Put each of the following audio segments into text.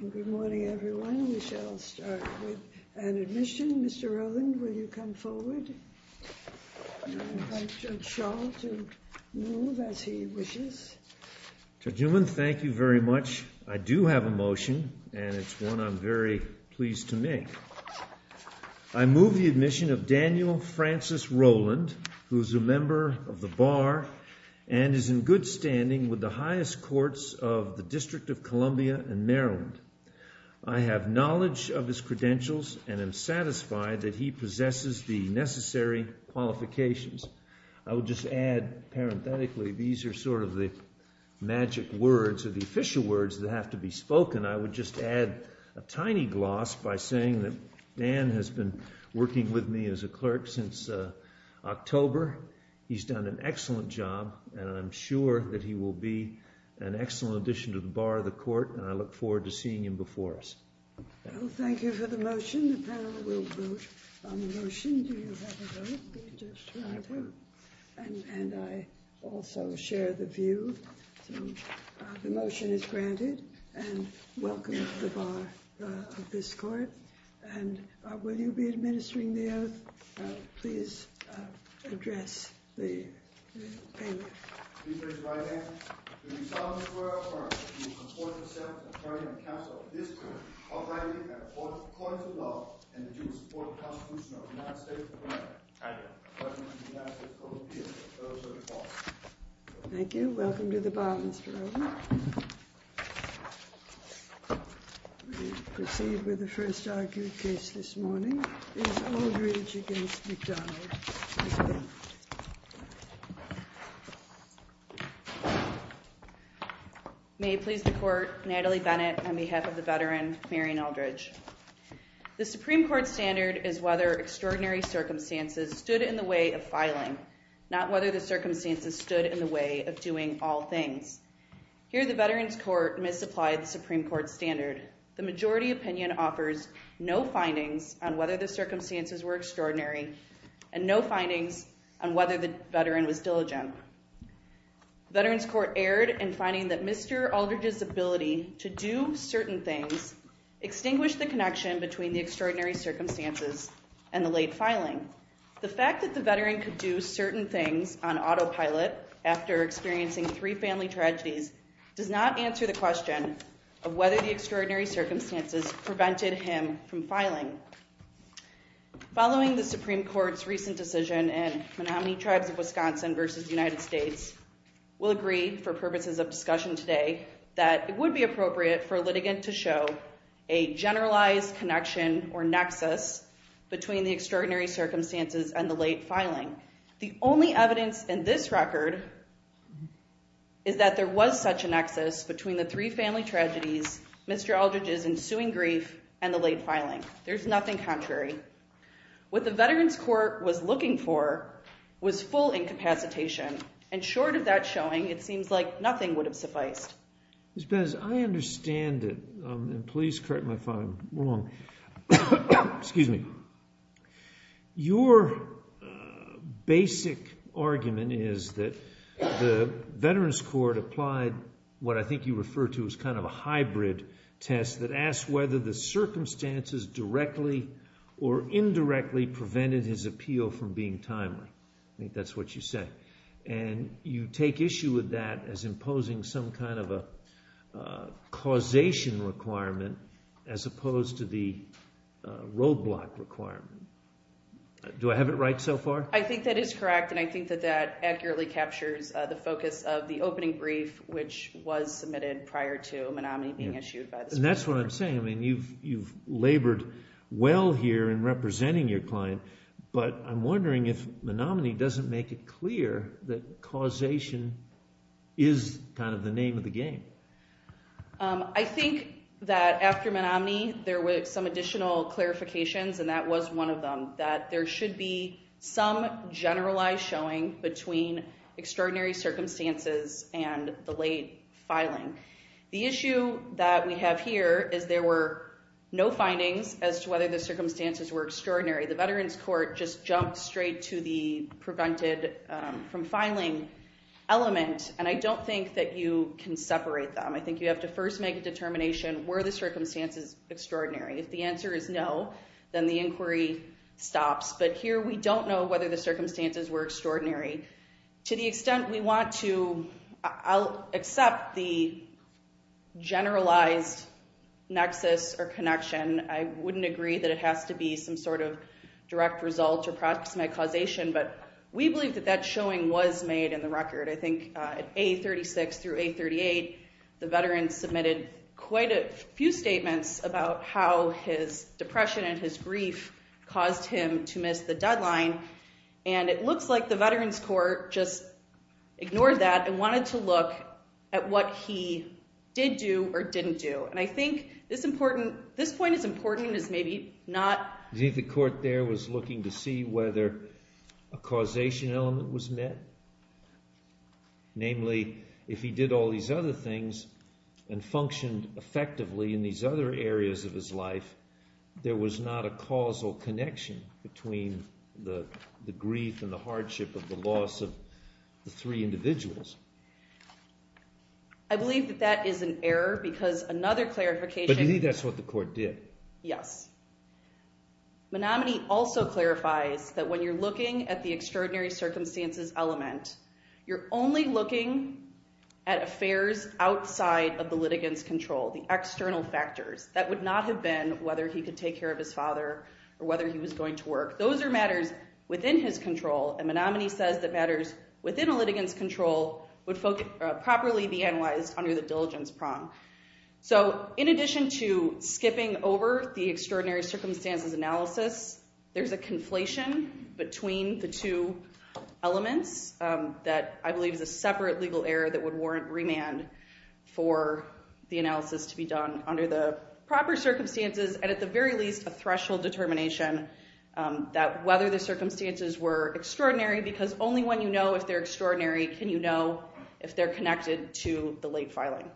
Good morning everyone. We shall start with an admission. Mr. Rowland, will you come forward? I invite Judge Schall to move as he wishes. Judge Newman, thank you very much. I do have a motion and it's one I'm very pleased to make. I move the admission of Daniel Francis Rowland, who is a member of the Bar and is in good standing with the highest courts of the District of Columbia and Maryland. I have knowledge of his credentials and am satisfied that he possesses the necessary qualifications. I would just add, parenthetically, these are sort of the magic words or the official words that have to be spoken. I would just add a tiny gloss by saying that Dan has been working with me as a clerk since October. He's done an excellent job and I'm sure that he will be an excellent addition to the Bar of the Court and I look forward to seeing him before us. Thank you for the motion. The panel will vote on the motion. Do you have a vote? And I also share the view. The motion is granted and welcome to the Bar of this Court. And will you be administering the oath? Please address the panel. Thank you. Welcome to the Bar, Mr. Rowland. We will proceed with the first argued case this morning. It is Aldridge v. McDonald. May it please the Court, Natalie Bennett on behalf of the veteran, Marion Aldridge. The Supreme Court standard is whether extraordinary circumstances stood in the way of filing, not whether the circumstances stood in the way of doing all things. Here the Veterans Court misapplied the Supreme Court standard. The majority opinion offers no findings on whether the circumstances were extraordinary and no findings on whether the veteran was diligent. Veterans Court erred in finding that Mr. Aldridge's ability to do certain things extinguished the connection between the extraordinary circumstances and the late filing. The fact that the veteran could do certain things on autopilot after experiencing three family tragedies does not answer the question of whether the extraordinary circumstances prevented him from filing. Following the Supreme Court's recent decision in Menominee Tribes of Wisconsin v. United States, we'll agree for purposes of discussion today that it would be appropriate for a litigant to show a generalized connection or nexus between the extraordinary circumstances and the late filing. The only evidence in this record is that there was such a nexus between the three family tragedies, Mr. Aldridge's ensuing grief, and the late filing. There's nothing contrary. What the Veterans Court was looking for was full incapacitation. And short of that showing, it seems like nothing would have sufficed. Ms. Bez, I understand it. And please correct my file. I'm wrong. Excuse me. Your basic argument is that the Veterans Court applied what I think you refer to as kind of a hybrid test that asks whether the circumstances directly or indirectly prevented his appeal from being timely. I think that's what you say. And you take issue with that as imposing some kind of a causation requirement as opposed to the roadblock requirement. Do I have it right so far? I think that is correct, and I think that that accurately captures the focus of the opening brief, which was submitted prior to Menominee being issued by the Supreme Court. And that's what I'm saying. I mean, you've labored well here in representing your client, but I'm wondering if Menominee doesn't make it clear that causation is kind of the name of the game. I think that after Menominee, there were some additional clarifications, and that was one of them, that there should be some generalized showing between extraordinary circumstances and the late filing. The issue that we have here is there were no findings as to whether the circumstances were extraordinary. The Veterans Court just jumped straight to the prevented from filing element, and I don't think that you can separate them. I think you have to first make a determination, were the circumstances extraordinary? If the answer is no, then the inquiry stops. But here we don't know whether the circumstances were extraordinary. To the extent we want to, I'll accept the generalized nexus or connection. I wouldn't agree that it has to be some sort of direct result to approximate causation, but we believe that that showing was made in the record. I think at A36 through A38, the veterans submitted quite a few statements about how his depression and his grief caused him to miss the deadline. And it looks like the Veterans Court just ignored that and wanted to look at what he did do or didn't do. And I think this point is important and is maybe not... Do you think the court there was looking to see whether a causation element was met? Namely, if he did all these other things and functioned effectively in these other areas of his life, there was not a causal connection between the grief and the hardship of the loss of the three individuals. I believe that that is an error because another clarification... But you think that's what the court did. Yes. Menominee also clarifies that when you're looking at the extraordinary circumstances element, you're only looking at affairs outside of the litigant's control, the external factors. That would not have been whether he could take care of his father or whether he was going to work. Those are matters within his control, and Menominee says that matters within a litigant's control would properly be analyzed under the diligence prong. So in addition to skipping over the extraordinary circumstances analysis, there's a conflation between the two elements that I believe is a separate legal error that would warrant remand for the analysis to be done under the proper circumstances and at the very least a threshold determination that whether the circumstances were extraordinary because only when you know if they're extraordinary can you know if they're connected to the late filing.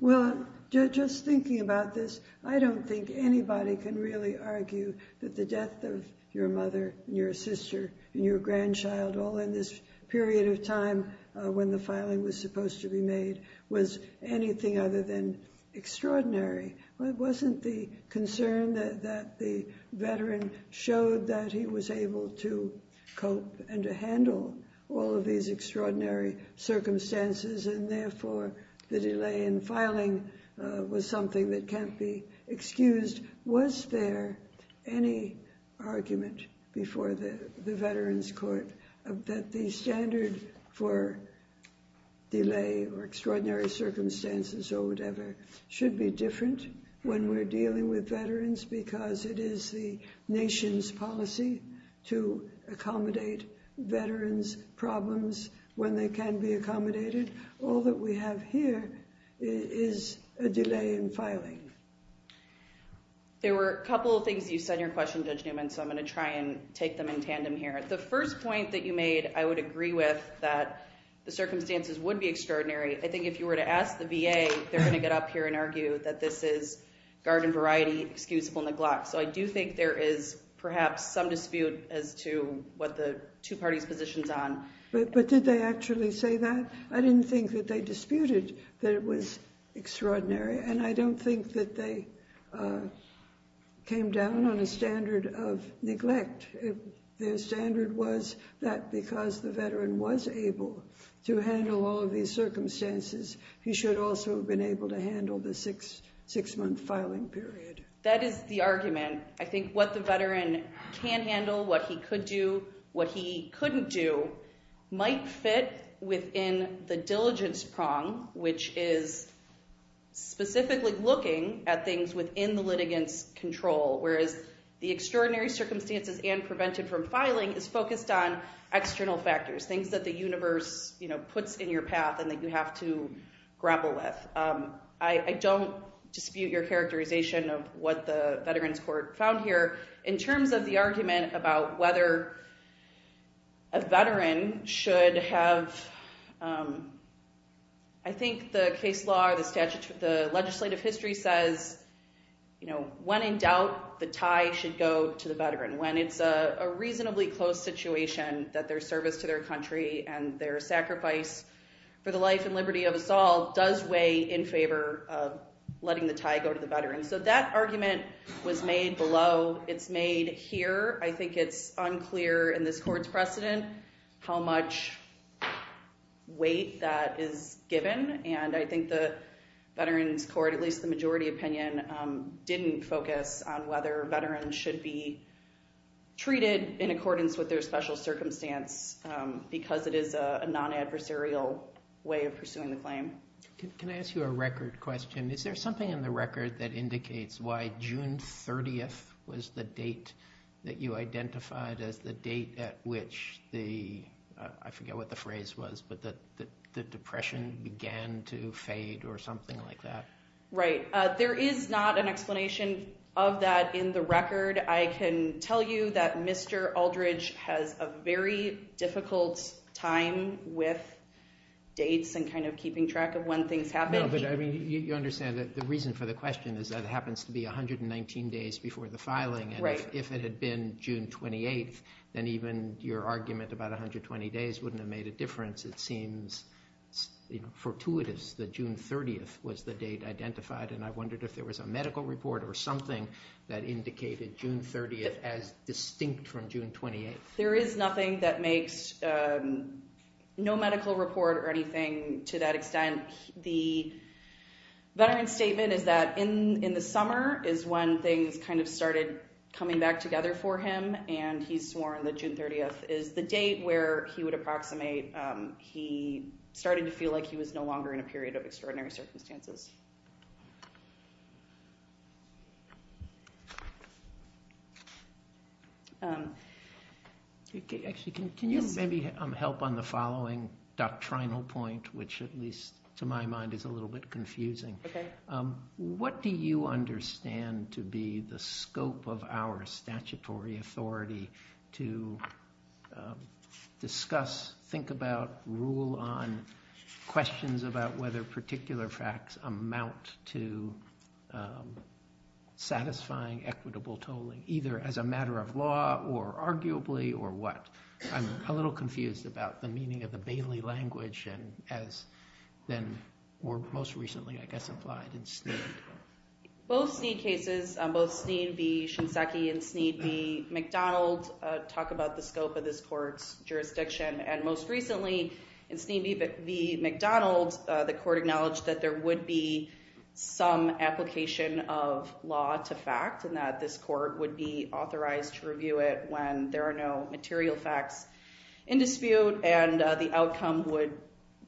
Well, just thinking about this, I don't think anybody can really argue that the death of your mother, your sister, and your grandchild all in this period of time when the filing was supposed to be made was anything other than extraordinary. It wasn't the concern that the veteran showed that he was able to cope and to handle all of these extraordinary circumstances and therefore the delay in filing was something that can't be excused. Was there any argument before the veterans court that the standard for delay or extraordinary circumstances or whatever should be different when we're dealing with veterans because it is the nation's policy to accommodate veterans' problems when they can be accommodated? All that we have here is a delay in filing. There were a couple of things you said in your question, Judge Newman, so I'm going to try and take them in tandem here. The first point that you made I would agree with that the circumstances would be extraordinary. I think if you were to ask the VA, they're going to get up here and argue that this is garden variety, excusable neglect. So I do think there is perhaps some dispute as to what the two parties' positions are. But did they actually say that? I didn't think that they disputed that it was extraordinary, and I don't think that they came down on a standard of neglect. Their standard was that because the veteran was able to handle all of these circumstances, he should also have been able to handle the six-month filing period. That is the argument. I think what the veteran can handle, what he could do, what he couldn't do might fit within the diligence prong, which is specifically looking at things within the litigants' control, whereas the extraordinary circumstances and prevented from filing is focused on external factors, things that the universe puts in your path and that you have to grapple with. I don't dispute your characterization of what the Veterans Court found here. In terms of the argument about whether a veteran should have, I think the case law or the legislative history says, when in doubt, the tie should go to the veteran. When it's a reasonably close situation that their service to their country and their sacrifice for the life and liberty of us all does weigh in favor of letting the tie go to the veteran. So that argument was made below. It's made here. I think it's unclear in this Court's precedent how much weight that is given. And I think the Veterans Court, at least the majority opinion, didn't focus on whether veterans should be treated in accordance with their special circumstance because it is a non-adversarial way of pursuing the claim. Can I ask you a record question? Is there something in the record that indicates why June 30th was the date that you identified as the date at which the, I forget what the phrase was, but that the depression began to fade or something like that? Right. There is not an explanation of that in the record. I can tell you that Mr. Aldridge has a very difficult time with dates and kind of keeping track of when things happen. No, but I mean, you understand that the reason for the question is that it happens to be 119 days before the filing. If it had been June 28th, then even your argument about 120 days wouldn't have made a difference. It seems fortuitous that June 30th was the date identified, and I wondered if there was a medical report or something that indicated June 30th as distinct from June 28th. There is nothing that makes no medical report or anything to that extent. The veteran's statement is that in the summer is when things kind of started coming back together for him, and he's sworn that June 30th is the date where he would approximate. He started to feel like he was no longer in a period of extraordinary circumstances. Actually, can you maybe help on the following doctrinal point, which at least to my mind is a little bit confusing? What do you understand to be the scope of our statutory authority to discuss, think about, rule on questions about whether particular facts amount to satisfying equitable tolling, either as a matter of law or arguably or what? I'm a little confused about the meaning of the Bailey language and as then most recently, I guess, applied in Snead. Both Snead cases, both Snead v. Shinseki and Snead v. McDonald, talk about the scope of this court's jurisdiction, and most recently in Snead v. McDonald, the court acknowledged that there would be some application of law to fact and that this court would be authorized to review it when there are no material facts in dispute and the outcome would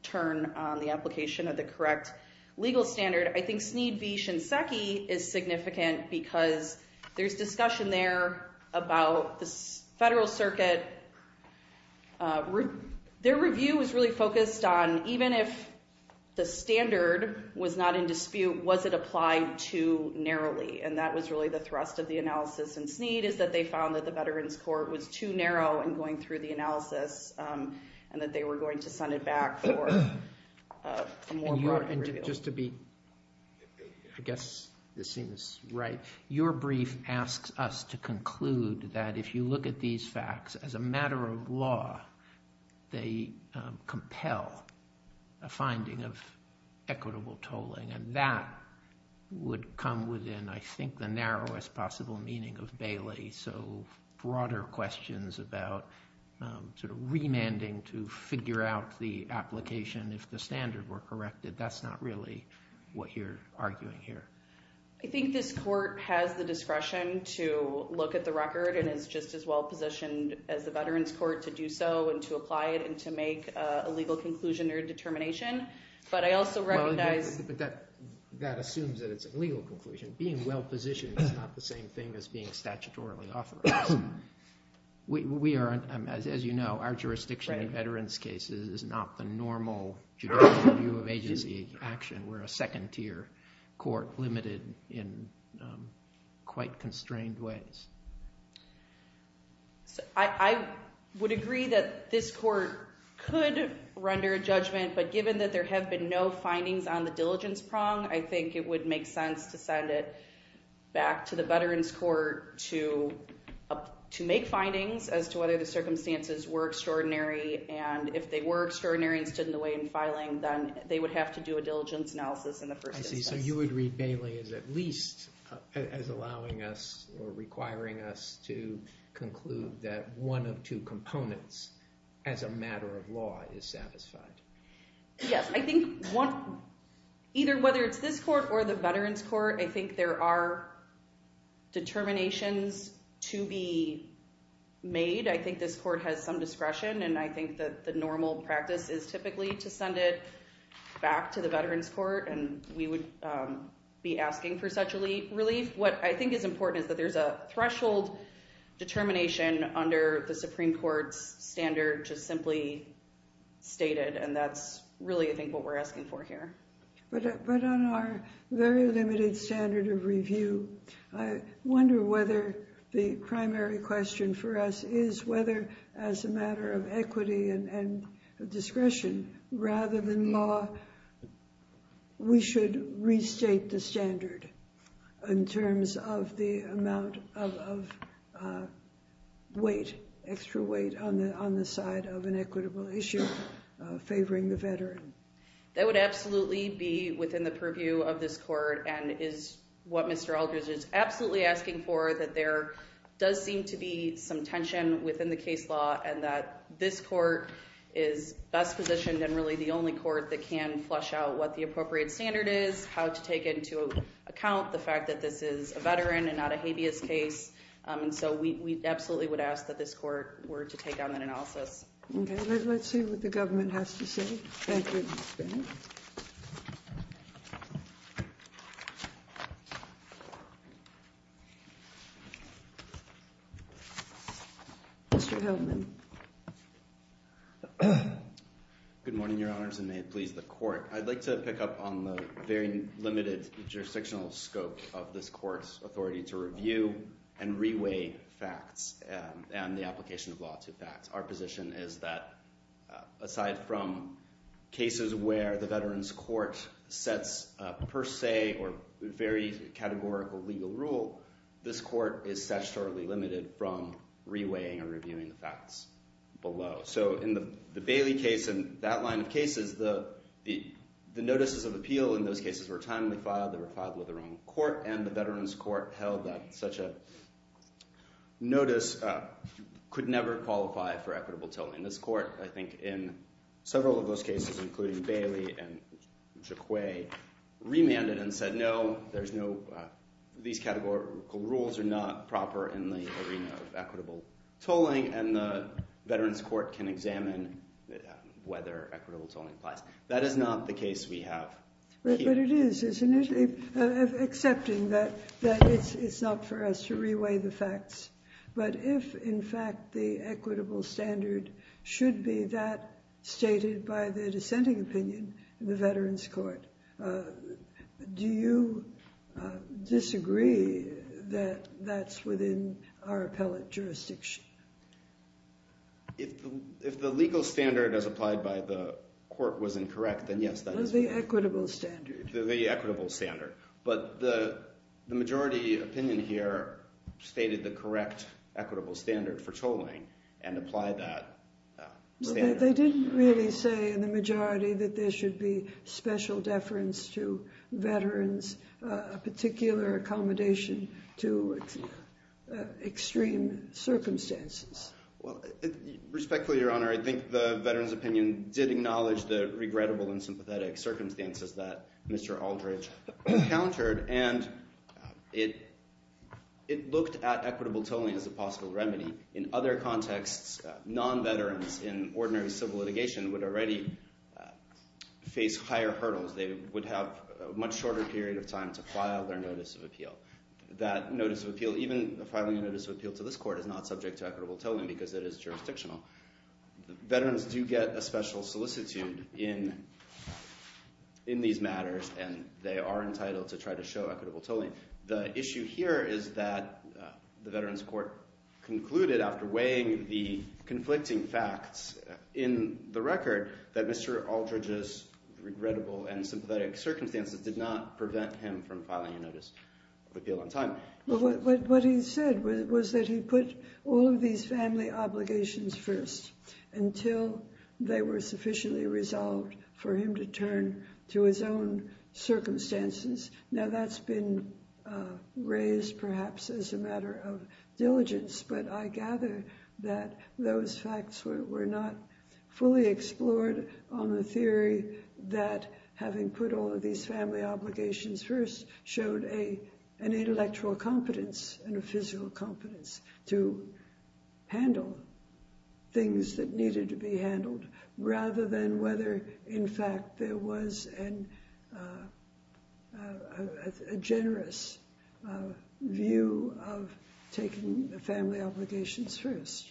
turn on the application of the correct legal standard. I think Snead v. Shinseki is significant because there's discussion there about the Federal Circuit. Their review was really focused on even if the standard was not in dispute, was it applied too narrowly? And that was really the thrust of the analysis in Snead is that they found that the Veterans Court was too narrow in going through the analysis and that they were going to send it back for a more broad review. But just to be, I guess, this seems right. Your brief asks us to conclude that if you look at these facts as a matter of law, they compel a finding of equitable tolling and that would come within, I think, the narrowest possible meaning of Bailey. So broader questions about remanding to figure out the application if the standard were corrected, that's not really what you're arguing here. I think this court has the discretion to look at the record and is just as well positioned as the Veterans Court to do so and to apply it and to make a legal conclusion or determination. But that assumes that it's a legal conclusion. Being well positioned is not the same thing as being statutorily authorized. As you know, our jurisdiction in veterans cases is not the normal judicial view of agency action. We're a second tier court limited in quite constrained ways. I would agree that this court could render a judgment. But given that there have been no findings on the diligence prong, I think it would make sense to send it back to the Veterans Court to make findings as to whether the circumstances were extraordinary. And if they were extraordinary and stood in the way in filing, then they would have to do a diligence analysis in the first instance. So you would read Bailey as at least as allowing us or requiring us to conclude that one of two components as a matter of law is satisfied. Yes, I think either whether it's this court or the Veterans Court, I think there are determinations to be made. I think this court has some discretion and I think that the normal practice is typically to send it back to the Veterans Court and we would be asking for such a relief. What I think is important is that there's a threshold determination under the Supreme Court's standard just simply stated. And that's really, I think, what we're asking for here. But on our very limited standard of review, I wonder whether the primary question for us is whether, as a matter of equity and discretion, rather than law, we should restate the standard in terms of the amount of weight, extra weight, on the side of an equitable issue favoring the veteran. That would absolutely be within the purview of this court and is what Mr. Aldridge is absolutely asking for, that there does seem to be some tension within the case law and that this court is best positioned and really the only court that can flesh out what the appropriate standard is, how to take into account the fact that this is a veteran and not a habeas case. And so we absolutely would ask that this court were to take on that analysis. Okay, let's see what the government has to say. Thank you. Mr. Heldman. Good morning, Your Honors, and may it please the court. I'd like to pick up on the very limited jurisdictional scope of this court's authority to review and reweigh facts and the application of law to facts. Our position is that, aside from cases where the Veterans Court sets per se or very categorical legal rule, this court is sexually limited from reweighing or reviewing the facts below. So in the Bailey case and that line of cases, the notices of appeal in those cases were timely filed. They were filed with the wrong court, and the Veterans Court held that such a notice could never qualify for equitable tolling. This court, I think, in several of those cases, including Bailey and Jacque, remanded and said, no, these categorical rules are not proper in the arena of equitable tolling, and the Veterans Court can examine whether equitable tolling applies. That is not the case we have here. It is, isn't it, excepting that it's not for us to reweigh the facts. But if, in fact, the equitable standard should be that stated by the dissenting opinion in the Veterans Court, do you disagree that that's within our appellate jurisdiction? If the legal standard as applied by the court was incorrect, then yes, that is correct. The equitable standard. The equitable standard. But the majority opinion here stated the correct equitable standard for tolling and applied that standard. They didn't really say in the majority that there should be special deference to veterans, a particular accommodation to extreme circumstances. Respectfully, Your Honor, I think the veterans' opinion did acknowledge the regrettable and sympathetic circumstances that Mr. Aldridge encountered, and it looked at equitable tolling as a possible remedy. In other contexts, non-veterans in ordinary civil litigation would already face higher hurdles. They would have a much shorter period of time to file their notice of appeal. That notice of appeal, even filing a notice of appeal to this court, is not subject to equitable tolling because it is jurisdictional. Veterans do get a special solicitude in these matters, and they are entitled to try to show equitable tolling. The issue here is that the veterans' court concluded, after weighing the conflicting facts in the record, that Mr. Aldridge's regrettable and sympathetic circumstances did not prevent him from filing a notice of appeal on time. What he said was that he put all of these family obligations first until they were sufficiently resolved for him to turn to his own circumstances. Now, that's been raised, perhaps, as a matter of diligence, but I gather that those facts were not fully explored on the theory that having put all of these family obligations first showed an intellectual competence and a physical competence to handle things that needed to be handled, rather than whether, in fact, there was a generous view of taking the family obligations first.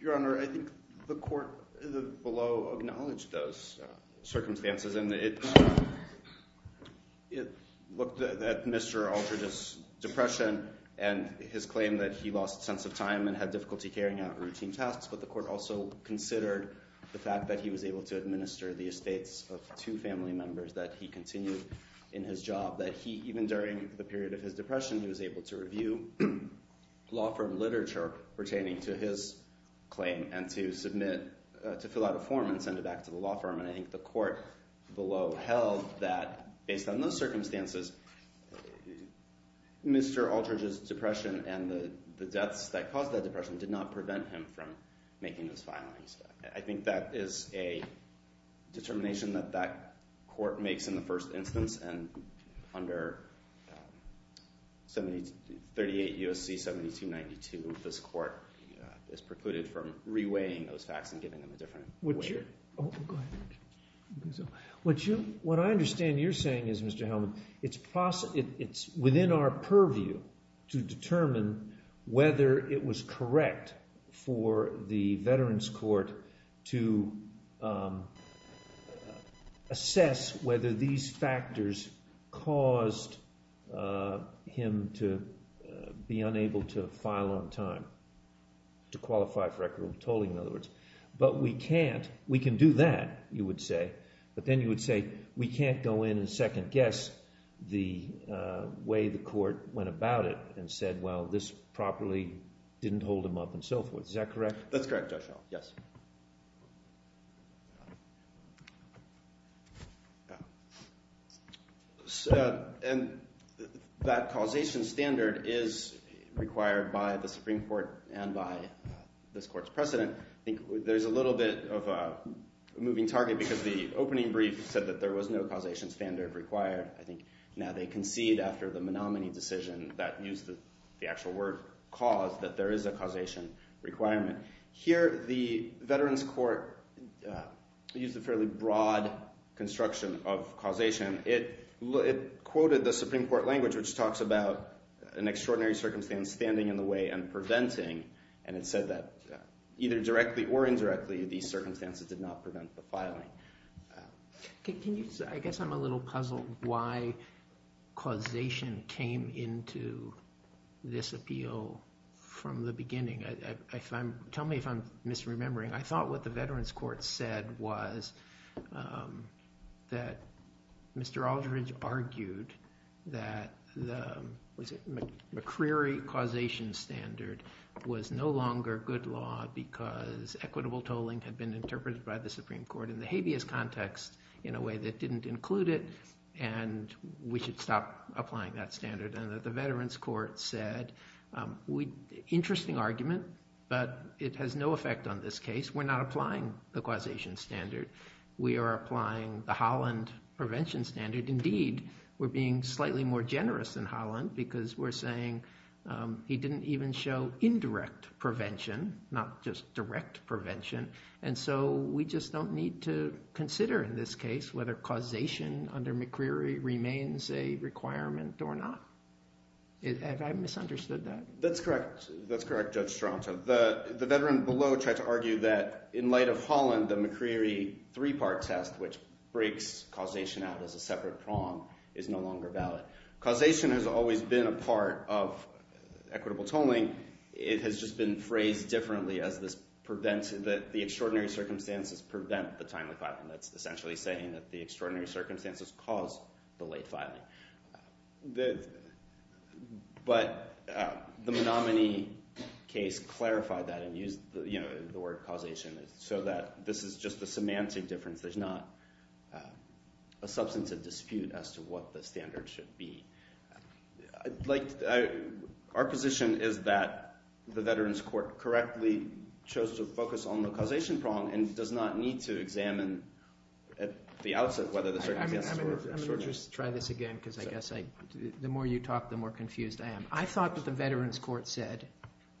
Your Honor, I think the court below acknowledged those circumstances, and it looked at Mr. Aldridge's depression and his claim that he lost sense of time and had difficulty carrying out routine tasks, but the court also considered the fact that he was able to administer the estates of two family members, that he continued in his job, that even during the period of his depression, he was able to review law firm literature pertaining to his claim and to submit, to fill out a form and send it back to the law firm. And I think the court below held that, based on those circumstances, Mr. Aldridge's depression and the deaths that caused that depression did not prevent him from making those filings. I think that is a determination that that court makes in the first instance, and under 38 U.S.C. 7292, this court is precluded from reweighing those facts and giving them a different weight. What I understand you're saying is, Mr. Hellman, it's within our purview to determine whether it was correct for the Veterans Court to assess whether these factors caused him to be unable to file on time, to qualify for equitable tolling, in other words, but we can't, we can do that, you would say, but then you would say we can't go in and second guess the way the court went about it and said, well, this properly didn't hold him up and so forth. Is that correct? That's correct, Judge Howell. Yes. And that causation standard is required by the Supreme Court and by this court's precedent. I think there's a little bit of a moving target because the opening brief said that there was no causation standard required. I think now they concede after the Menominee decision that used the actual word cause that there is a causation requirement. Here, the Veterans Court used a fairly broad construction of causation. It quoted the Supreme Court language, which talks about an extraordinary circumstance standing in the way and preventing, and it said that either directly or indirectly, these circumstances did not prevent the filing. Can you – I guess I'm a little puzzled why causation came into this appeal from the beginning. Tell me if I'm misremembering. I thought what the Veterans Court said was that Mr. Aldridge argued that the McCreary causation standard was no longer good law because equitable tolling had been interpreted by the Supreme Court in the habeas context in a way that didn't include it and we should stop applying that standard. The Veterans Court said, interesting argument, but it has no effect on this case. We're not applying the causation standard. We are applying the Holland prevention standard. Indeed, we're being slightly more generous than Holland because we're saying he didn't even show indirect prevention, not just direct prevention, and so we just don't need to consider in this case whether causation under McCreary remains a requirement or not. Have I misunderstood that? That's correct. That's correct, Judge Strato. The veteran below tried to argue that in light of Holland, the McCreary three-part test, which breaks causation out as a separate prong, is no longer valid. Causation has always been a part of equitable tolling. Equitable tolling, it has just been phrased differently as the extraordinary circumstances prevent the timely filing. That's essentially saying that the extraordinary circumstances cause the late filing. But the Menominee case clarified that and used the word causation so that this is just the semantic difference. There's not a substantive dispute as to what the standard should be. Our position is that the veterans court correctly chose to focus on the causation prong and does not need to examine at the outset whether the circumstances were extraordinary. I'm going to just try this again because I guess the more you talk, the more confused I am. I thought that the veterans court said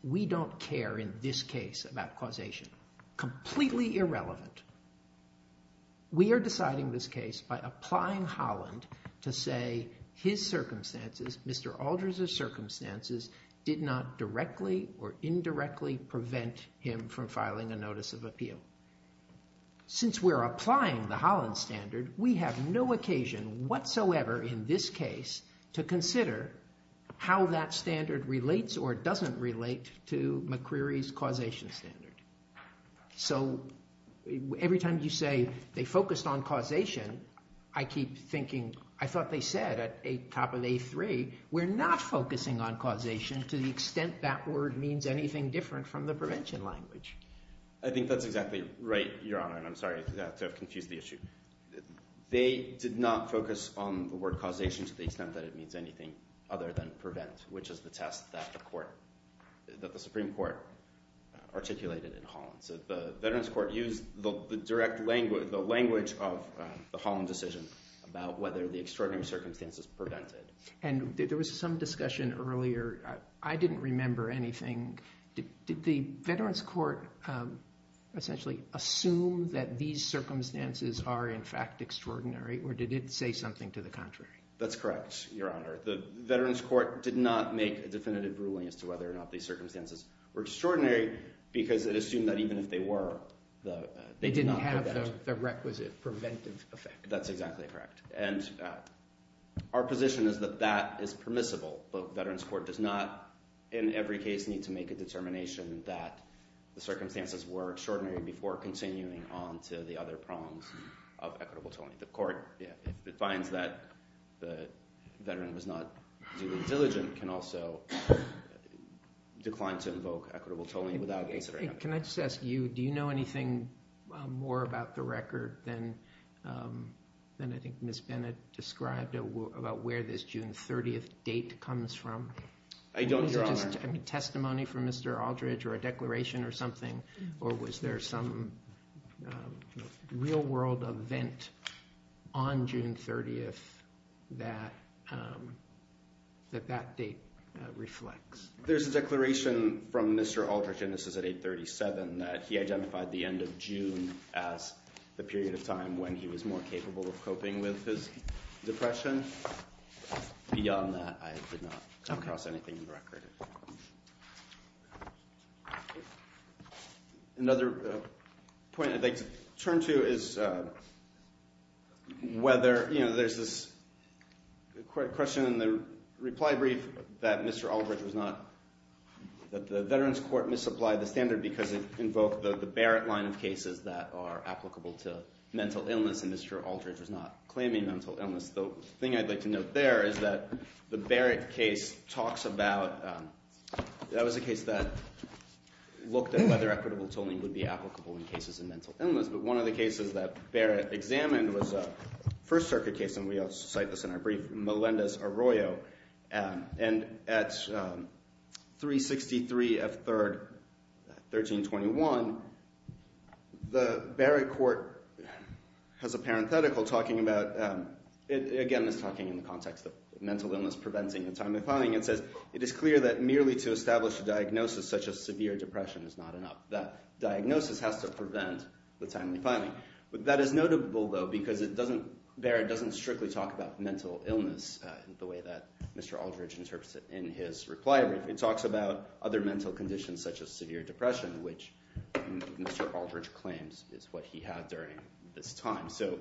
we don't care in this case about causation, completely irrelevant. We are deciding this case by applying Holland to say his circumstances, Mr. Aldridge's circumstances, did not directly or indirectly prevent him from filing a notice of appeal. Since we're applying the Holland standard, we have no occasion whatsoever in this case to consider how that standard relates or doesn't relate to McCreary's causation standard. So every time you say they focused on causation, I keep thinking, I thought they said at top of day three, we're not focusing on causation to the extent that word means anything different from the prevention language. I think that's exactly right, Your Honor, and I'm sorry to have confused the issue. They did not focus on the word causation to the extent that it means anything other than prevent, which is the test that the Supreme Court articulated in Holland. So the veterans court used the language of the Holland decision about whether the extraordinary circumstances prevented. And there was some discussion earlier. I didn't remember anything. Did the veterans court essentially assume that these circumstances are in fact extraordinary or did it say something to the contrary? That's correct, Your Honor. The veterans court did not make a definitive ruling as to whether or not these circumstances were extraordinary because it assumed that even if they were, they did not prevent. They didn't have the requisite preventive effect. That's exactly correct. And our position is that that is permissible. The veterans court does not, in every case, need to make a determination that the circumstances were extraordinary before continuing on to the other prongs of equitable telling. The court, if it finds that the veteran was not duly diligent, can also decline to invoke equitable telling without considering that. Can I just ask you, do you know anything more about the record than I think Ms. Bennett described about where this June 30th date comes from? I don't, Your Honor. Testimony from Mr. Aldridge or a declaration or something, or was there some real world event on June 30th that that date reflects? There's a declaration from Mr. Aldridge, and this is at 837, that he identified the end of June as the period of time when he was more capable of coping with his depression. Beyond that, I did not come across anything in the record. Another point I'd like to turn to is whether, you know, there's this question in the reply brief that Mr. Aldridge was not, that the veterans court misapplied the standard because it invoked the Barrett line of cases that are applicable to mental illness, and Mr. Aldridge was not claiming mental illness. The thing I'd like to note there is that the Barrett case talks about, that was a case that looked at whether equitable telling would be applicable in cases of mental illness, but one of the cases that Barrett examined was a First Circuit case, and we also cite this in our brief, Melendez-Arroyo. And at 363 of 3rd, 1321, the Barrett court has a parenthetical talking about, again, it's talking in the context of mental illness preventing the timely filing. It says, it is clear that merely to establish a diagnosis such as severe depression is not enough. That diagnosis has to prevent the timely filing. That is notable, though, because it doesn't, Barrett doesn't strictly talk about mental illness the way that Mr. Aldridge interprets it in his reply brief. It talks about other mental conditions such as severe depression, which Mr. Aldridge claims is what he had during this time. So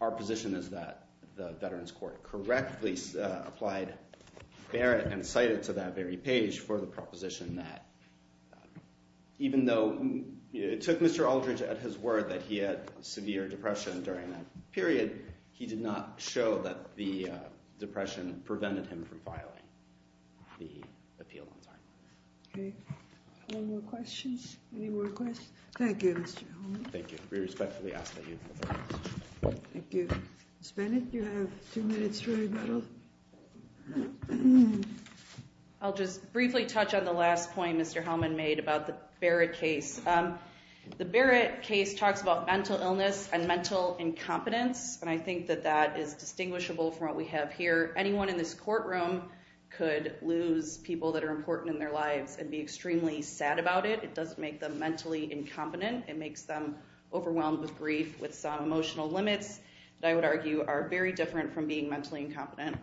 our position is that the veterans court correctly applied Barrett and cited to that very page for the proposition that even though it took Mr. Aldridge at his word that he had severe depression during that period, he did not show that the depression prevented him from filing the appeal. Okay. Any more questions? Any more requests? Thank you, Mr. Hellman. Thank you. We respectfully ask that you move on. Thank you. Ms. Bennett, you have two minutes for rebuttal. I'll just briefly touch on the last point Mr. Hellman made about the Barrett case. The Barrett case talks about mental illness and mental incompetence, and I think that that is distinguishable from what we have here. Anyone in this courtroom could lose people that are important in their lives and be extremely sad about it. It doesn't make them mentally incompetent. It makes them overwhelmed with grief with some emotional limits that I would argue are very different from being mentally incompetent.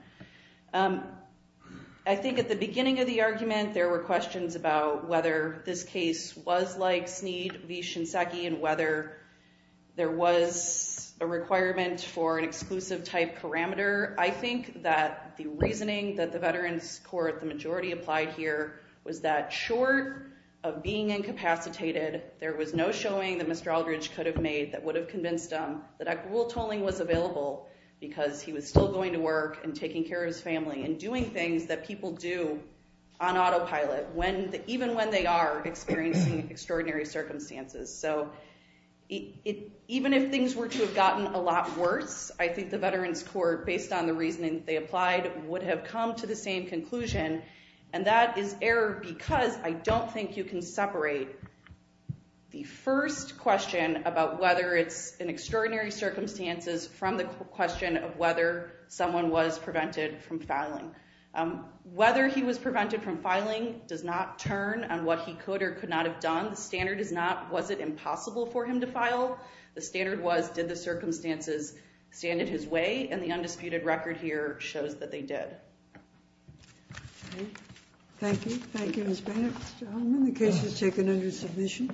I think at the beginning of the argument, there were questions about whether this case was like Snead v. Shinseki and whether there was a requirement for an exclusive type parameter. I think that the reasoning that the Veterans Court, the majority applied here, was that short of being incapacitated, there was no showing that Mr. Aldridge could have made that would have convinced him that equal tolling was available because he was still going to work and taking care of his family and doing things that people do on autopilot even when they are experiencing extraordinary circumstances. So even if things were to have gotten a lot worse, I think the Veterans Court, based on the reasoning they applied, would have come to the same conclusion, and that is error because I don't think you can separate the first question about whether it's in extraordinary circumstances from the question of whether someone was prevented from filing. Whether he was prevented from filing does not turn on what he could or could not have done. The standard is not, was it impossible for him to file? The standard was, did the circumstances stand in his way? And the undisputed record here shows that they did. Thank you. Thank you, Ms. Bennett. Mr. Holman, the case is taken under submission.